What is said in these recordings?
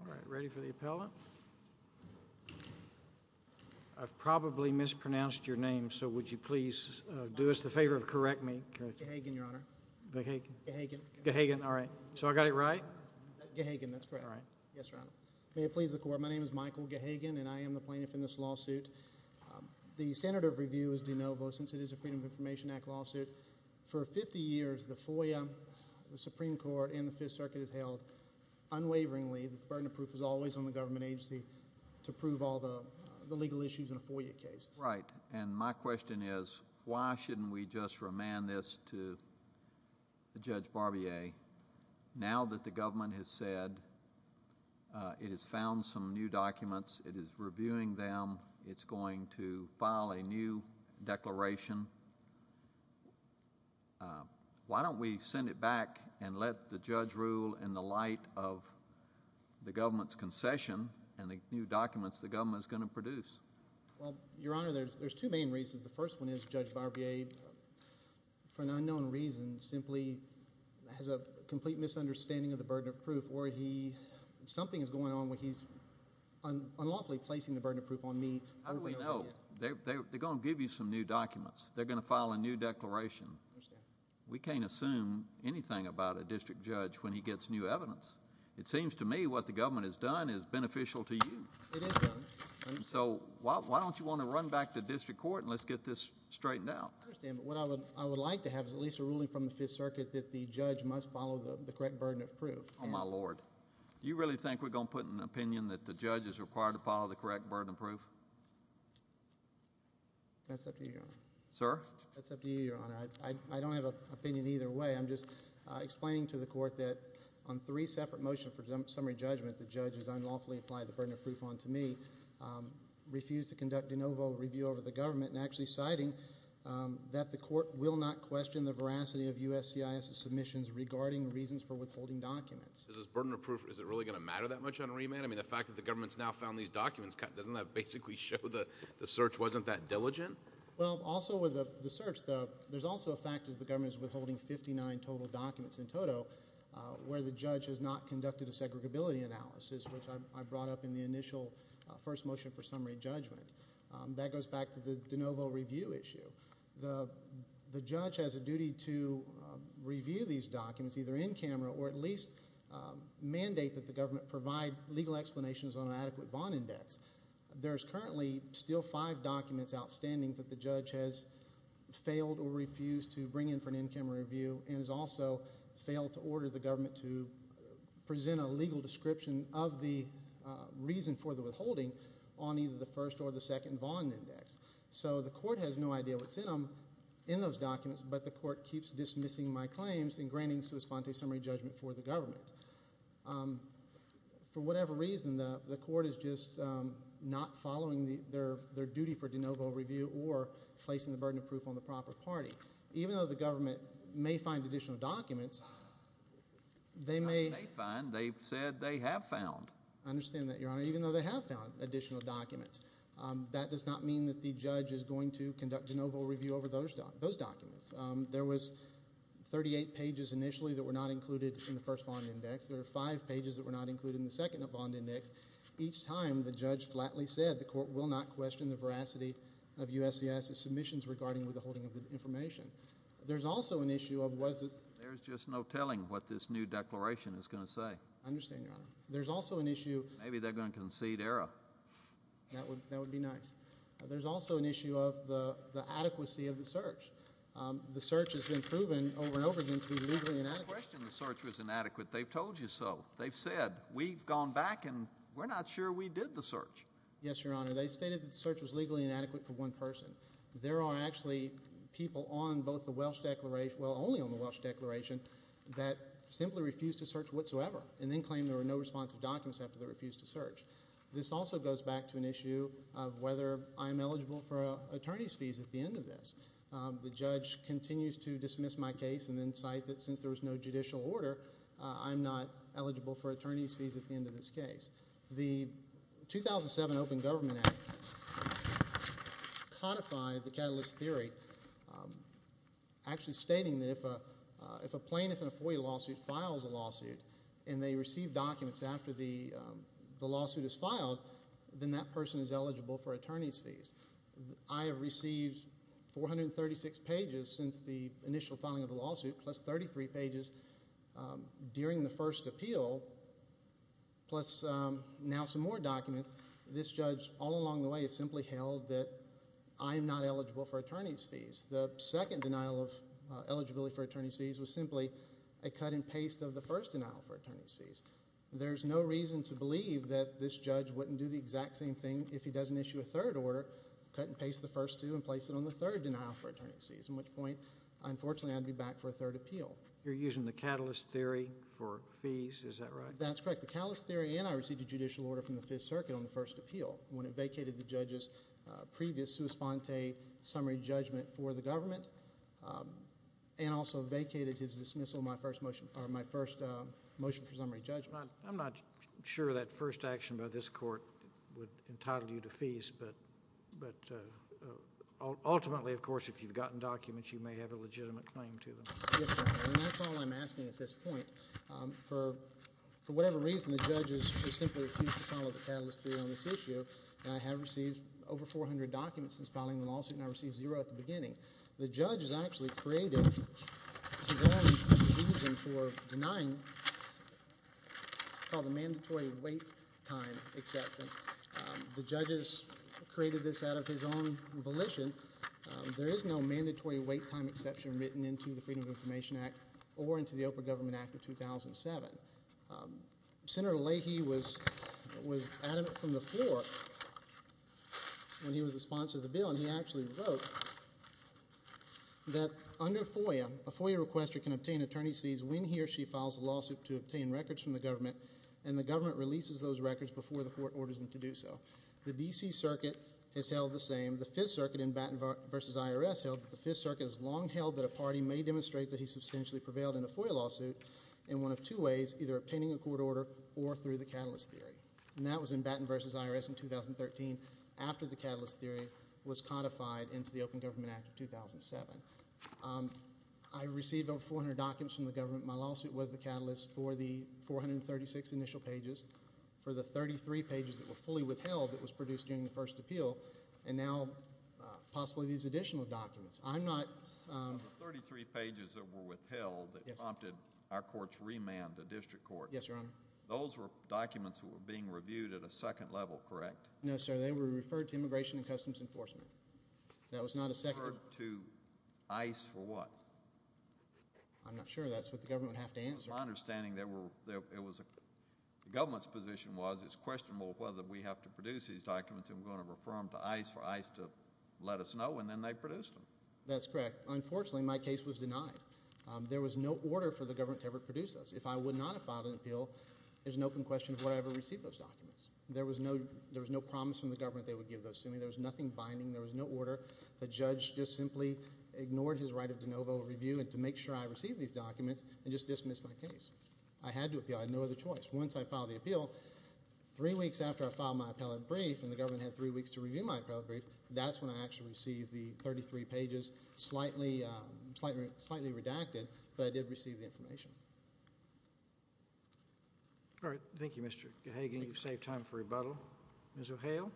I am Michael Gahagan and am the plaintiff in this lawsuit. The standard of review is de novo since it is a Freedom of Information Act lawsuit. For 50 years, the FOIA, the Supreme Court, and the Fifth Circuit has held unwaveringly that the burden of proof is always on the government agency to prove all the legal issues in a FOIA case. Right. And my question is, why shouldn't we just remand this to Judge Barbier now that the government has said it has found some new documents, it is reviewing them, it's going to file a new declaration? Why don't we send it back and let the judge rule in the light of the government's concession and the new documents the government is going to produce? Well, Your Honor, there's two main reasons. The first one is Judge Barbier, for an unknown reason, simply has a complete misunderstanding of the burden of proof or he, something is going on where he's unlawfully placing the burden of proof on me. How do we know? They're going to give you some new documents. They're going to file a new declaration. We can't assume anything about a district judge when he gets new evidence. It seems to me what the government has done is beneficial to you. It has done. And so, why don't you want to run back to district court and let's get this straightened out? I understand. But what I would like to have is at least a ruling from the Fifth Circuit that the judge must follow the correct burden of proof. Oh, my Lord. Do you really think we're going to put an opinion that the judge is required to follow the correct burden of proof? That's up to you, Your Honor. Sir. That's up to you, Your Honor. I don't have an opinion either way. I'm just explaining to the court that on three separate motions for summary judgment, the judge has unlawfully applied the burden of proof onto me, refused to conduct a no-vote review over the government, and actually, citing that the court will not question the veracity of USCIS' submissions regarding reasons for withholding documents. Is this burden of proof, is it really going to matter that much on remand? I mean, the fact that the government's now found these documents, doesn't that basically show that the search wasn't that diligent? Well, also with the search, there's also a fact that the government is withholding 59 total documents in total where the judge has not conducted a segregability analysis, which I brought up in the initial first motion for summary judgment. That goes back to the de novo review issue. The judge has a duty to review these documents either in camera or at least mandate that the government provide legal explanations on an adequate Vaughn Index. There's currently still five documents outstanding that the judge has failed or refused to bring in for an in-camera review and has also failed to order the government to present a legal description of the reason for the withholding on either the first or the second Vaughn Index. So the court has no idea what's in them, in those documents, but the court keeps dismissing my claims in granting sua sponte summary judgment for the government. For whatever reason, the court is just not following their duty for de novo review or placing the burden of proof on the proper party. Even though the government may find additional documents, they may... They may find. They've said they have found. I understand that, Your Honor. Even though they have found additional documents, that does not mean that the judge is going to conduct de novo review over those documents. There was 38 pages initially that were not included in the first Vaughn Index. There were five pages that were not included in the second Vaughn Index. Each time, the judge flatly said the court will not question the veracity of USCIS's submissions regarding withholding of the information. There's also an issue of... There's just no telling what this new declaration is going to say. I understand, Your Honor. There's also an issue... Maybe they're going to concede error. That would be nice. There's also an issue of the adequacy of the search. The search has been proven over and over again to be legally inadequate. I didn't question the search was inadequate. They've told you so. They've said, we've gone back and we're not sure we did the search. Yes, Your Honor. They stated that the search was legally inadequate for one person. There are actually people on both the Welsh declaration... well, only on the Welsh declaration that simply refused to search whatsoever and then claimed there were no responsive documents after they refused to search. This also goes back to an issue of whether I'm eligible for attorney's fees at the end of this. The judge continues to dismiss my case and then cite that since there was no judicial order, I'm not eligible for attorney's fees at the end of this case. The 2007 Open Government Act codified the catalyst theory, actually stating that if a plaintiff in a FOIA lawsuit files a lawsuit and they receive documents after the lawsuit is filed, then that person is eligible for attorney's fees. I have received 436 pages since the initial filing of the lawsuit, plus 33 pages during the first appeal, plus now some more documents. This judge, all along the way, has simply held that I'm not eligible for attorney's fees. The second denial of eligibility for attorney's fees was simply a cut and paste of the first denial for attorney's fees. There's no reason to believe that this judge wouldn't do the exact same thing if he doesn't issue a third order, cut and paste the first two, and place it on the third denial for attorney's fees, at which point, unfortunately, I'd be back for a third appeal. You're using the catalyst theory for fees, is that right? That's correct. The catalyst theory and I received a judicial order from the Fifth Circuit on the first appeal when it vacated the judge's previous sua sponte summary judgment for the government and also vacated his dismissal of my first motion for summary judgment. I'm not sure that first action by this court would entitle you to fees, but ultimately, of course, if you've gotten documents, you may have a legitimate claim to them. Yes, sir. That's all I'm asking at this point. For whatever reason, the judges simply refused to follow the catalyst theory on this issue. I have received over 400 documents since filing the lawsuit, and I received zero at the beginning. The judge has actually created his own reason for denying the mandatory wait time exception. The judge has created this out of his own volition. There is no mandatory wait time exception written into the Freedom of Information Act or into the Oprah Government Act of 2007. Senator Leahy was adamant from the floor when he was the sponsor of the bill, and he actually wrote that under FOIA, a FOIA requester can obtain attorney's fees when he or she files a lawsuit to obtain records from the government, and the government releases those records before the court orders them to do so. The D.C. Circuit has held the same. The Fifth Circuit in Batten v. IRS held that the Fifth Circuit has long held that a party may demonstrate that he substantially prevailed in a FOIA lawsuit in one of two ways, either obtaining a court order or through the catalyst theory. That was in Batten v. IRS in 2013, after the catalyst theory was codified into the Open Government Act of 2007. I received over 400 documents from the government. My lawsuit was the catalyst for the 436 initial pages, for the 33 pages that were fully withheld that was produced during the first appeal, and now, possibly, these additional documents. I'm not— The 33 pages that were withheld that prompted our courts to remand the district courts— Yes, Your Honor. Those were documents that were being reviewed at a second level, correct? No, sir. They were referred to Immigration and Customs Enforcement. That was not a second— Referred to ICE for what? I'm not sure. That's what the government would have to answer. It was my understanding there were—the government's position was it's questionable whether we have to produce these documents, and we're going to refer them to ICE for ICE to let us know, and then they produced them. That's correct. Unfortunately, my case was denied. There was no order for the government to ever produce those. If I would not have filed an appeal, there's an open question of whether I ever received those documents. There was no promise from the government they would give those to me. There was nothing binding. There was no order. The judge just simply ignored his right of de novo review and to make sure I received these documents and just dismissed my case. I had to appeal. I had no other choice. Once I filed the appeal, three weeks after I filed my appellate brief, and the government had three weeks to review my appellate brief, that's when I actually received the 33 pages, which is slightly redacted, but I did receive the information. All right. Thank you, Mr. Gahagan. Thank you. You've saved time for rebuttal. Ms. O'Hale?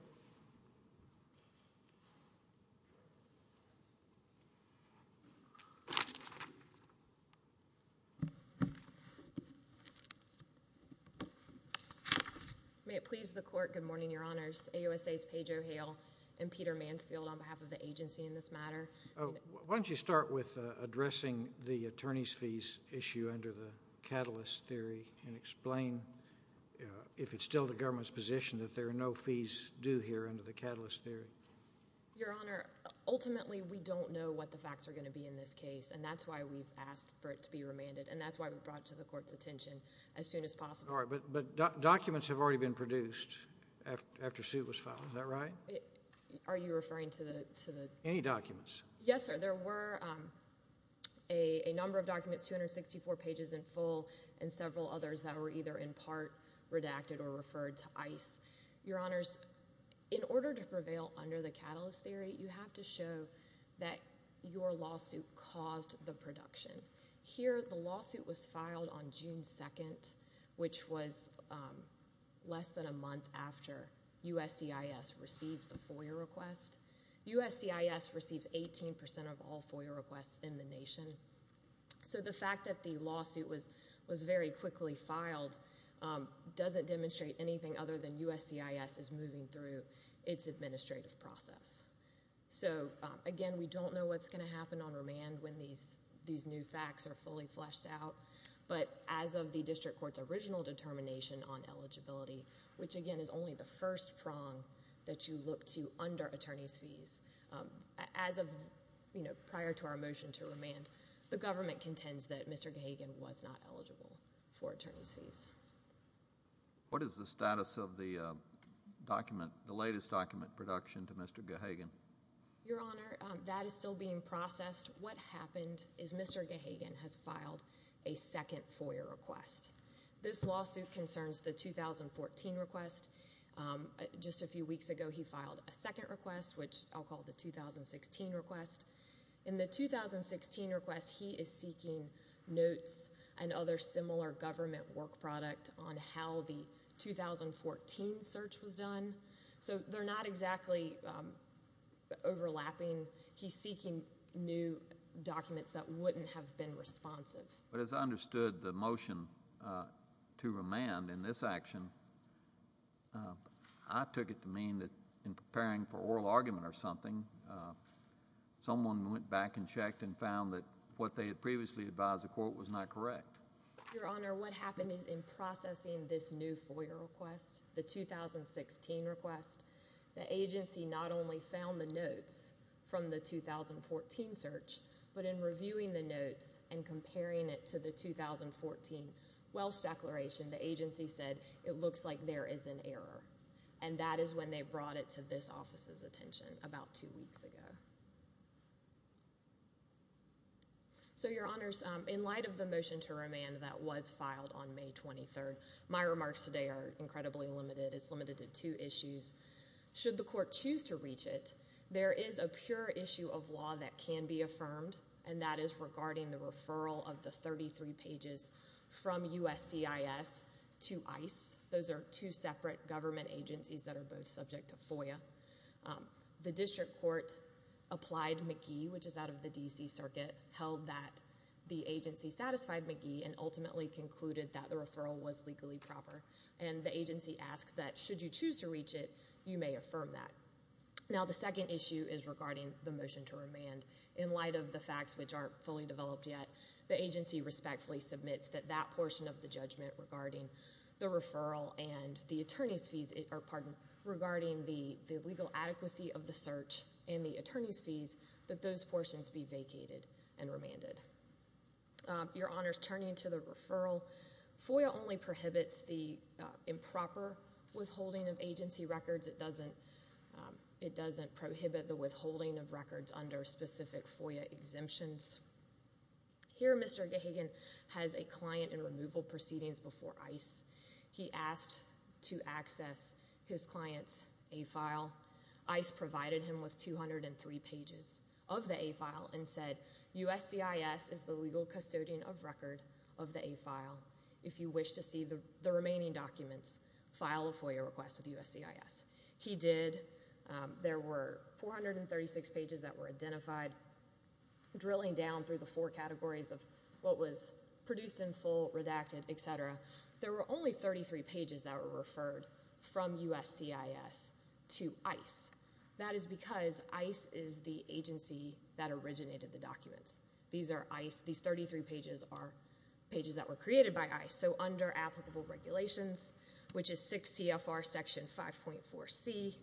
May it please the Court, good morning, Your Honors, AUSA's Paige O'Hale and Peter Mansfield on behalf of the agency in this matter. Why don't you start with addressing the attorney's fees issue under the Catalyst Theory and explain if it's still the government's position that there are no fees due here under the Catalyst Theory? Your Honor, ultimately, we don't know what the facts are going to be in this case, and that's why we've asked for it to be remanded, and that's why we brought it to the Court's attention as soon as possible. All right, but documents have already been produced after Sue was filed, is that right? Are you referring to the— Any documents? Yes, sir. There were a number of documents, 264 pages in full, and several others that were either in part redacted or referred to ICE. Your Honors, in order to prevail under the Catalyst Theory, you have to show that your lawsuit caused the production. Here, the lawsuit was filed on June 2nd, which was less than a month after USCIS received the FOIA request. USCIS receives 18% of all FOIA requests in the nation. So the fact that the lawsuit was very quickly filed doesn't demonstrate anything other than USCIS is moving through its administrative process. So again, we don't know what's going to happen on remand when these new facts are fully fleshed out, but as of the District Court's original determination on eligibility, which again is only the first prong that you look to under attorney's fees, as of prior to our motion to remand, the government contends that Mr. Gahagan was not eligible for attorney's fees. What is the status of the document, the latest document production to Mr. Gahagan? Your Honor, that is still being processed. What happened is Mr. Gahagan has filed a second FOIA request. This lawsuit concerns the 2014 request. Just a few weeks ago, he filed a second request, which I'll call the 2016 request. In the 2016 request, he is seeking notes and other similar government work product on how the 2014 search was done. So they're not exactly overlapping. He's seeking new documents that wouldn't have been responsive. But as I understood the motion to remand in this action, I took it to mean that in preparing for oral argument or something, someone went back and checked and found that what they had previously advised the court was not correct. Your Honor, what happened is in processing this new FOIA request, the 2016 request, the 2014 Welsh declaration, the agency said it looks like there is an error. And that is when they brought it to this office's attention about two weeks ago. So Your Honors, in light of the motion to remand that was filed on May 23rd, my remarks today are incredibly limited. It's limited to two issues. Should the court choose to reach it, there is a pure issue of law that can be affirmed, and that is regarding the referral of the 33 pages from USCIS to ICE. Those are two separate government agencies that are both subject to FOIA. The district court applied McGee, which is out of the D.C. Circuit, held that the agency satisfied McGee and ultimately concluded that the referral was legally proper. And the agency asked that should you choose to reach it, you may affirm that. Now the second issue is regarding the motion to remand. In light of the facts, which aren't fully developed yet, the agency respectfully submits that that portion of the judgment regarding the referral and the attorney's fees, pardon, regarding the legal adequacy of the search and the attorney's fees, that those portions be vacated and remanded. Your Honors, turning to the referral, FOIA only prohibits the improper withholding of agency records. In other words, it doesn't prohibit the withholding of records under specific FOIA exemptions. Here Mr. Gahagan has a client in removal proceedings before ICE. He asked to access his client's A-file. ICE provided him with 203 pages of the A-file and said USCIS is the legal custodian of record of the A-file. If you wish to see the remaining documents, file a FOIA request with USCIS. He did. There were 436 pages that were identified. Drilling down through the four categories of what was produced in full, redacted, etc., there were only 33 pages that were referred from USCIS to ICE. That is because ICE is the agency that originated the documents. These are ICE. These 33 pages are pages that were created by ICE. So under applicable regulations, which is 6 CFR section 5.4C,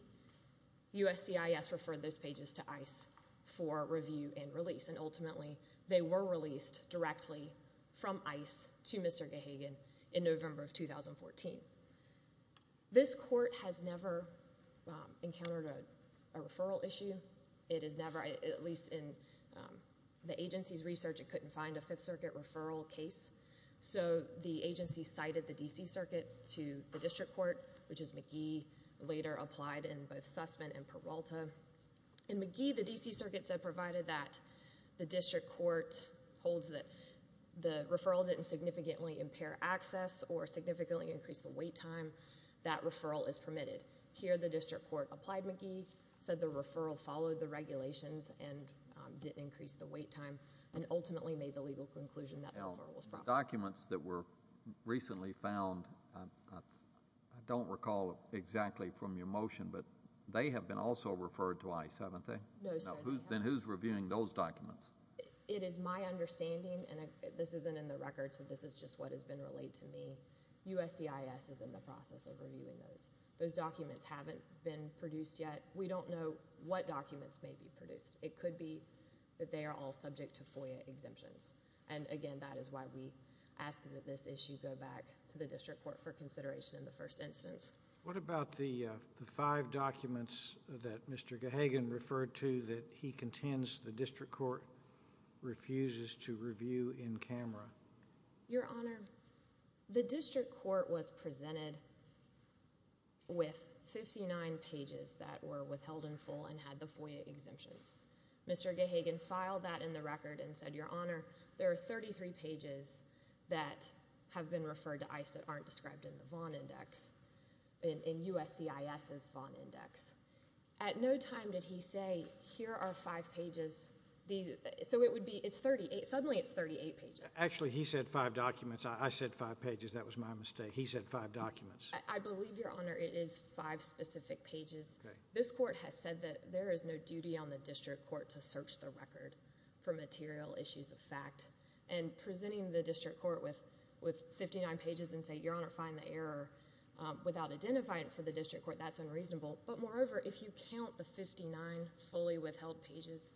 USCIS referred those pages to ICE for review and release. And ultimately, they were released directly from ICE to Mr. Gahagan in November of 2014. This court has never encountered a referral issue. It is never, at least in the agency's research, it couldn't find a Fifth Circuit referral case. So the agency cited the D.C. Circuit to the district court, which is McGee, later applied in both Sussman and Peralta. In McGee, the D.C. Circuit said provided that the district court holds that the referral didn't significantly impair access or significantly increase the wait time, that referral is permitted. Here, the district court applied McGee, said the referral followed the regulations and didn't increase the wait time, and ultimately made the legal conclusion that the referral was permitted. The documents that were recently found, I don't recall exactly from your motion, but they have been also referred to ICE, haven't they? No, sir. Then who's reviewing those documents? It is my understanding, and this isn't in the record, so this is just what has been relayed to me, USCIS is in the process of reviewing those. Those documents haven't been produced yet. We don't know what documents may be produced. It could be that they are all subject to FOIA exemptions, and again, that is why we ask that this issue go back to the district court for consideration in the first instance. What about the five documents that Mr. Gahagan referred to that he contends the district court refuses to review in camera? Your Honor, the district court was presented with 59 pages that were withheld in full and had the FOIA exemptions. Mr. Gahagan filed that in the record and said, Your Honor, there are 33 pages that have been referred to ICE that aren't described in the Vaughn Index, in USCIS's Vaughn Index. At no time did he say, here are five pages, so it would be, suddenly it's 38 pages. Actually, he said five documents. I said five pages. That was my mistake. He said five documents. I believe, Your Honor, it is five specific pages. This court has said that there is no duty on the district court to search the record for material issues of fact, and presenting the district court with 59 pages and say, Your Honor, find the error without identifying it for the district court, that's unreasonable, but moreover, if you count the 59 fully withheld pages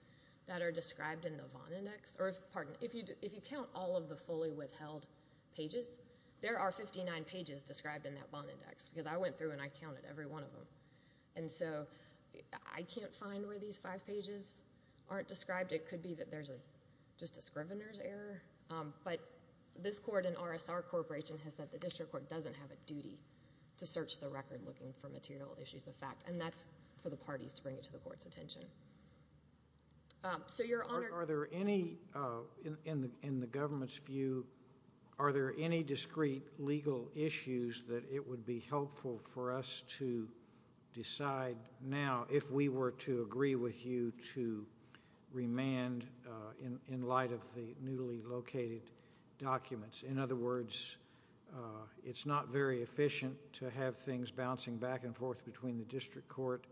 that are described in the Vaughn Index, or if, pardon, if you count all of the fully withheld pages, there are 59 pages described in that Vaughn Index, because I went through and I counted every one of them. And so, I can't find where these five pages aren't described. It could be that there's just a scrivener's error, but this court and RSR Corporation has said the district court doesn't have a duty to search the record looking for material issues of fact, and that's for the parties to bring it to the court's attention. So, Your Honor. Are there any, in the government's view, are there any discreet legal issues that it would be helpful for us to decide now if we were to agree with you to remand in light of the newly located documents? In other words, it's not very efficient to have things bouncing back and forth between the district court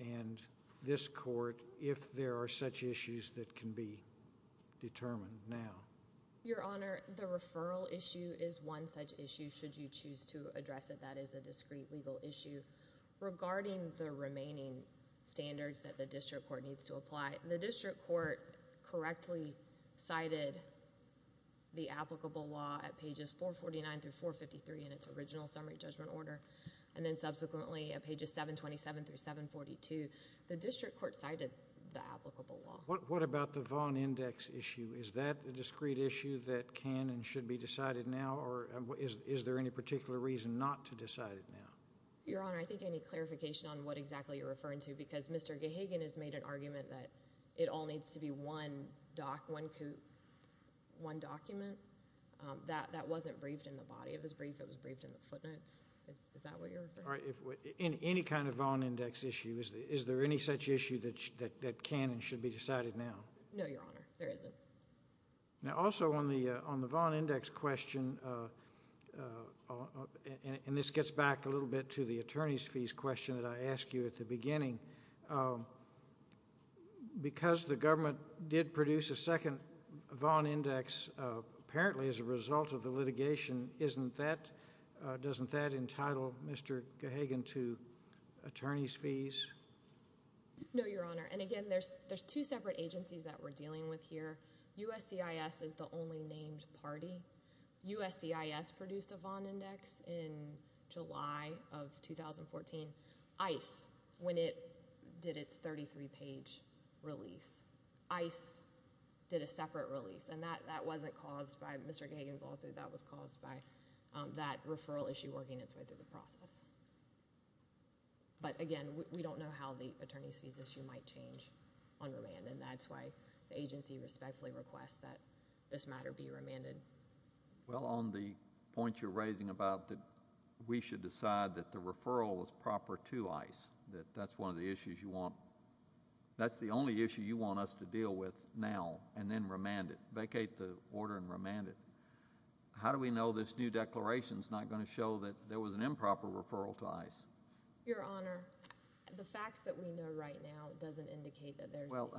and this court if there are such issues that can be determined now. Your Honor, the referral issue is one such issue, should you choose to address it. That is a discreet legal issue. Regarding the remaining standards that the district court needs to apply, the district court correctly cited the applicable law at pages 449 through 453 in its original summary judgment order, and then subsequently at pages 727 through 742, the district court cited the applicable law. What about the Vaughn Index issue? Is that a discreet issue that can and should be decided now, or is there any particular reason not to decide it now? Your Honor, I think I need clarification on what exactly you're referring to, because Mr. Gahagan has made an argument that it all needs to be one doc, one coup, one document. That wasn't briefed in the body of his brief, it was briefed in the footnotes. Is that what you're referring to? In any kind of Vaughn Index issue, is there any such issue that can and should be decided now? No, Your Honor, there isn't. Now also on the Vaughn Index question, and this gets back a little bit to the attorney's fees question that I asked you at the beginning, because the government did produce a second Vaughn Index, apparently as a result of the litigation, isn't that, doesn't that entitle Mr. Gahagan to attorney's fees? No, Your Honor, and again, there's two separate agencies that we're dealing with here. USCIS is the only named party. USCIS produced a Vaughn Index in July of 2014. ICE, when it did its 33-page release, ICE did a separate release. And that wasn't caused by Mr. Gahagan's lawsuit, that was caused by that referral issue working its way through the process. But again, we don't know how the attorney's fees issue might change on remand, and that's why the agency respectfully requests that this matter be remanded. Well, on the point you're raising about that we should decide that the referral is proper to ICE, that that's one of the issues you want, that's the only issue you want us to advocate the order and remand it. How do we know this new declaration's not going to show that there was an improper referral to ICE? Your Honor, the facts that we know right now doesn't indicate that there's a... Well...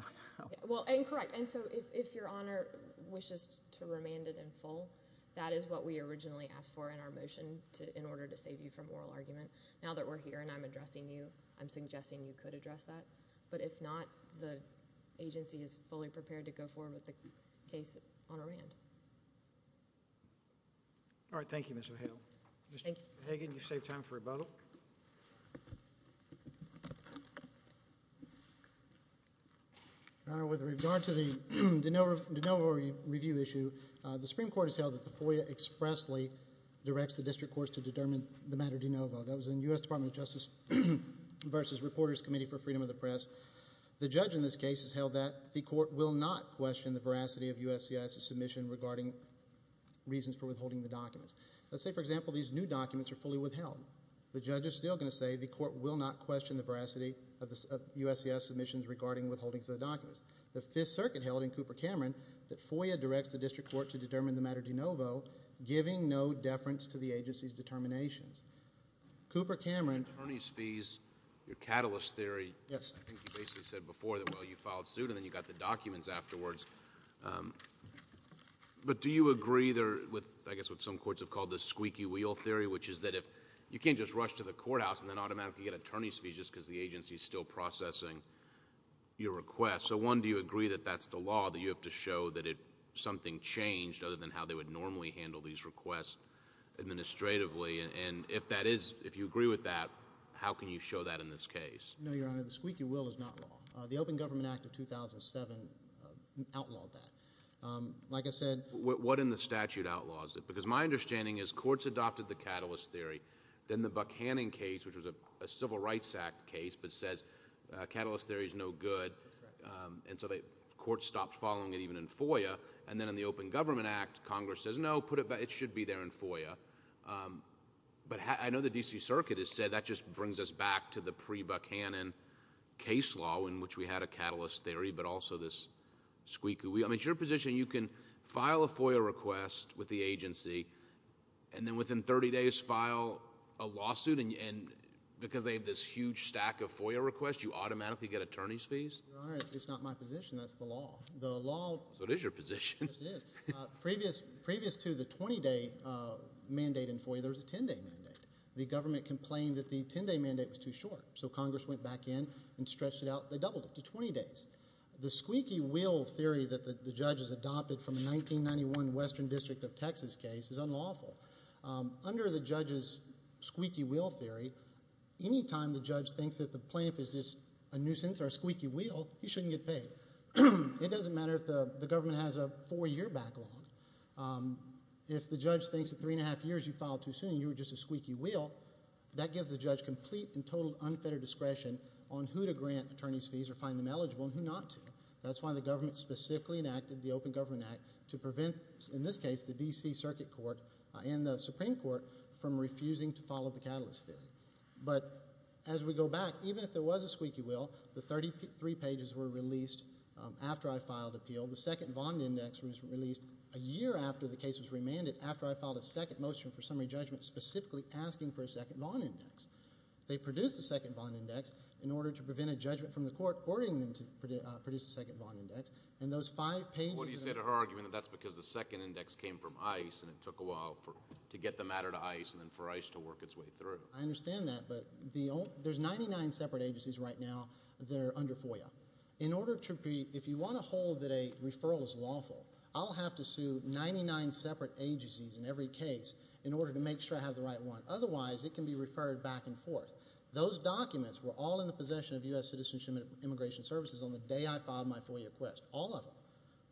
Well, and correct. And so if Your Honor wishes to remand it in full, that is what we originally asked for in our motion in order to save you from oral argument. Now that we're here and I'm addressing you, I'm suggesting you could address that. But if not, the agency is fully prepared to go forward with the case on remand. All right. Thank you, Ms. O'Hale. Thank you. Mr. Hagan, you've saved time for rebuttal. Your Honor, with regard to the DeNovo review issue, the Supreme Court has held that the FOIA expressly directs the district courts to determine the matter of DeNovo. Well, that was in U.S. Department of Justice versus Reporters Committee for Freedom of the Press. The judge in this case has held that the court will not question the veracity of USCIS' submission regarding reasons for withholding the documents. Let's say, for example, these new documents are fully withheld. The judge is still going to say the court will not question the veracity of USCIS' submissions regarding withholdings of the documents. The Fifth Circuit held in Cooper-Cameron that FOIA directs the district court to determine the matter of DeNovo, giving no deference to the agency's determinations. Cooper-Cameron... Attorneys' fees, your catalyst theory... Yes. I think you basically said before that, well, you filed suit and then you got the documents afterwards, but do you agree there with, I guess what some courts have called the squeaky wheel theory, which is that if... you can't just rush to the courthouse and then automatically get attorneys' fees just because the agency is still processing your request. So one, do you agree that that's the law, that you have to show that something changed other than how they would normally handle these requests administratively? And if that is... if you agree with that, how can you show that in this case? No, Your Honor, the squeaky wheel is not law. The Open Government Act of 2007 outlawed that. Like I said... What in the statute outlaws it? Because my understanding is courts adopted the catalyst theory, then the Buchanan case, which was a Civil Rights Act case, but says catalyst theory is no good... That's correct. And so courts stopped following it even in FOIA, and then in the Open Government Act, Congress says, no, put it... it should be there in FOIA. But I know the D.C. Circuit has said that just brings us back to the pre-Buchanan case law in which we had a catalyst theory, but also this squeaky wheel. I mean, it's your position you can file a FOIA request with the agency and then within 30 days file a lawsuit, and because they have this huge stack of FOIA requests, you automatically get attorneys' fees? Your Honor, it's not my position. That's the law. The law... So it is your position. Yes, it is. Previous to the 20-day mandate in FOIA, there was a 10-day mandate. The government complained that the 10-day mandate was too short, so Congress went back in and stretched it out. They doubled it to 20 days. The squeaky wheel theory that the judge has adopted from a 1991 Western District of Texas case is unlawful. Under the judge's squeaky wheel theory, anytime the judge thinks that the plaintiff is just a squeaky wheel, he shouldn't get paid. It doesn't matter if the government has a four-year backlog. If the judge thinks that three and a half years you filed too soon, you were just a squeaky wheel, that gives the judge complete and total unfettered discretion on who to grant attorneys' fees or find them eligible and who not to. That's why the government specifically enacted the Open Government Act to prevent, in this case, the D.C. Circuit Court and the Supreme Court from refusing to follow the catalyst theory. But as we go back, even if there was a squeaky wheel, the 33 pages were released after I filed appeal. The second Vaughn Index was released a year after the case was remanded, after I filed a second motion for summary judgment specifically asking for a second Vaughn Index. They produced a second Vaughn Index in order to prevent a judgment from the court ordering them to produce a second Vaughn Index. And those five pages— What do you say to her argument that that's because the second index came from ICE and it took a while to get the matter to ICE and then for ICE to work its way through? I understand that, but there's 99 separate agencies right now that are under FOIA. In order to be—if you want to hold that a referral is lawful, I'll have to sue 99 separate agencies in every case in order to make sure I have the right one. Otherwise, it can be referred back and forth. Those documents were all in the possession of U.S. Citizenship and Immigration Services on the day I filed my FOIA request, all of them.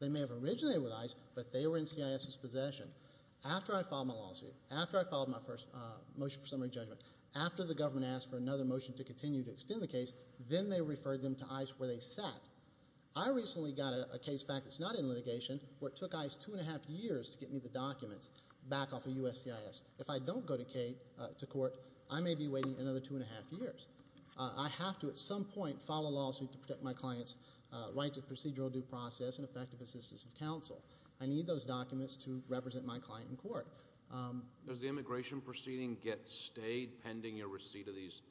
They may have originated with ICE, but they were in CIS's possession. After I filed my lawsuit, after I filed my first motion for summary judgment, after the government asked for another motion to continue to extend the case, then they referred them to ICE where they sat. I recently got a case back that's not in litigation where it took ICE two and a half years to get me the documents back off of USCIS. If I don't go to court, I may be waiting another two and a half years. I have to at some point file a lawsuit to protect my client's right to procedural due process and effective assistance of counsel. I need those documents to represent my client in court. Does the immigration proceeding get stayed pending your receipt of these?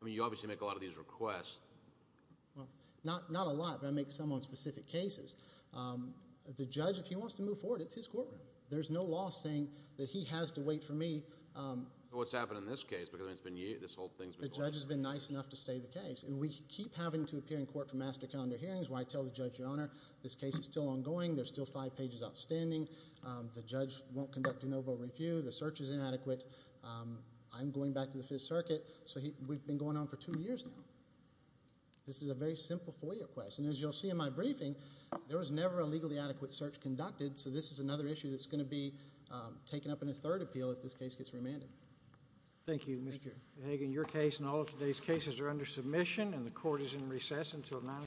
I mean, you obviously make a lot of these requests. Not a lot, but I make some on specific cases. The judge, if he wants to move forward, it's his courtroom. There's no law saying that he has to wait for me. What's happened in this case? Because this whole thing's been going on. The judge has been nice enough to stay the case. We keep having to appear in court for master calendar hearings where I tell the judge, Your Honor, this case is still ongoing. There's still five pages outstanding. The judge won't conduct a no vote review. The search is inadequate. I'm going back to the Fifth Circuit. So we've been going on for two years now. This is a very simple FOIA request. And as you'll see in my briefing, there was never a legally adequate search conducted. So this is another issue that's going to be taken up in a third appeal if this case gets remanded. Thank you, Mr. Hagan. And the court is in recess until 9 o'clock.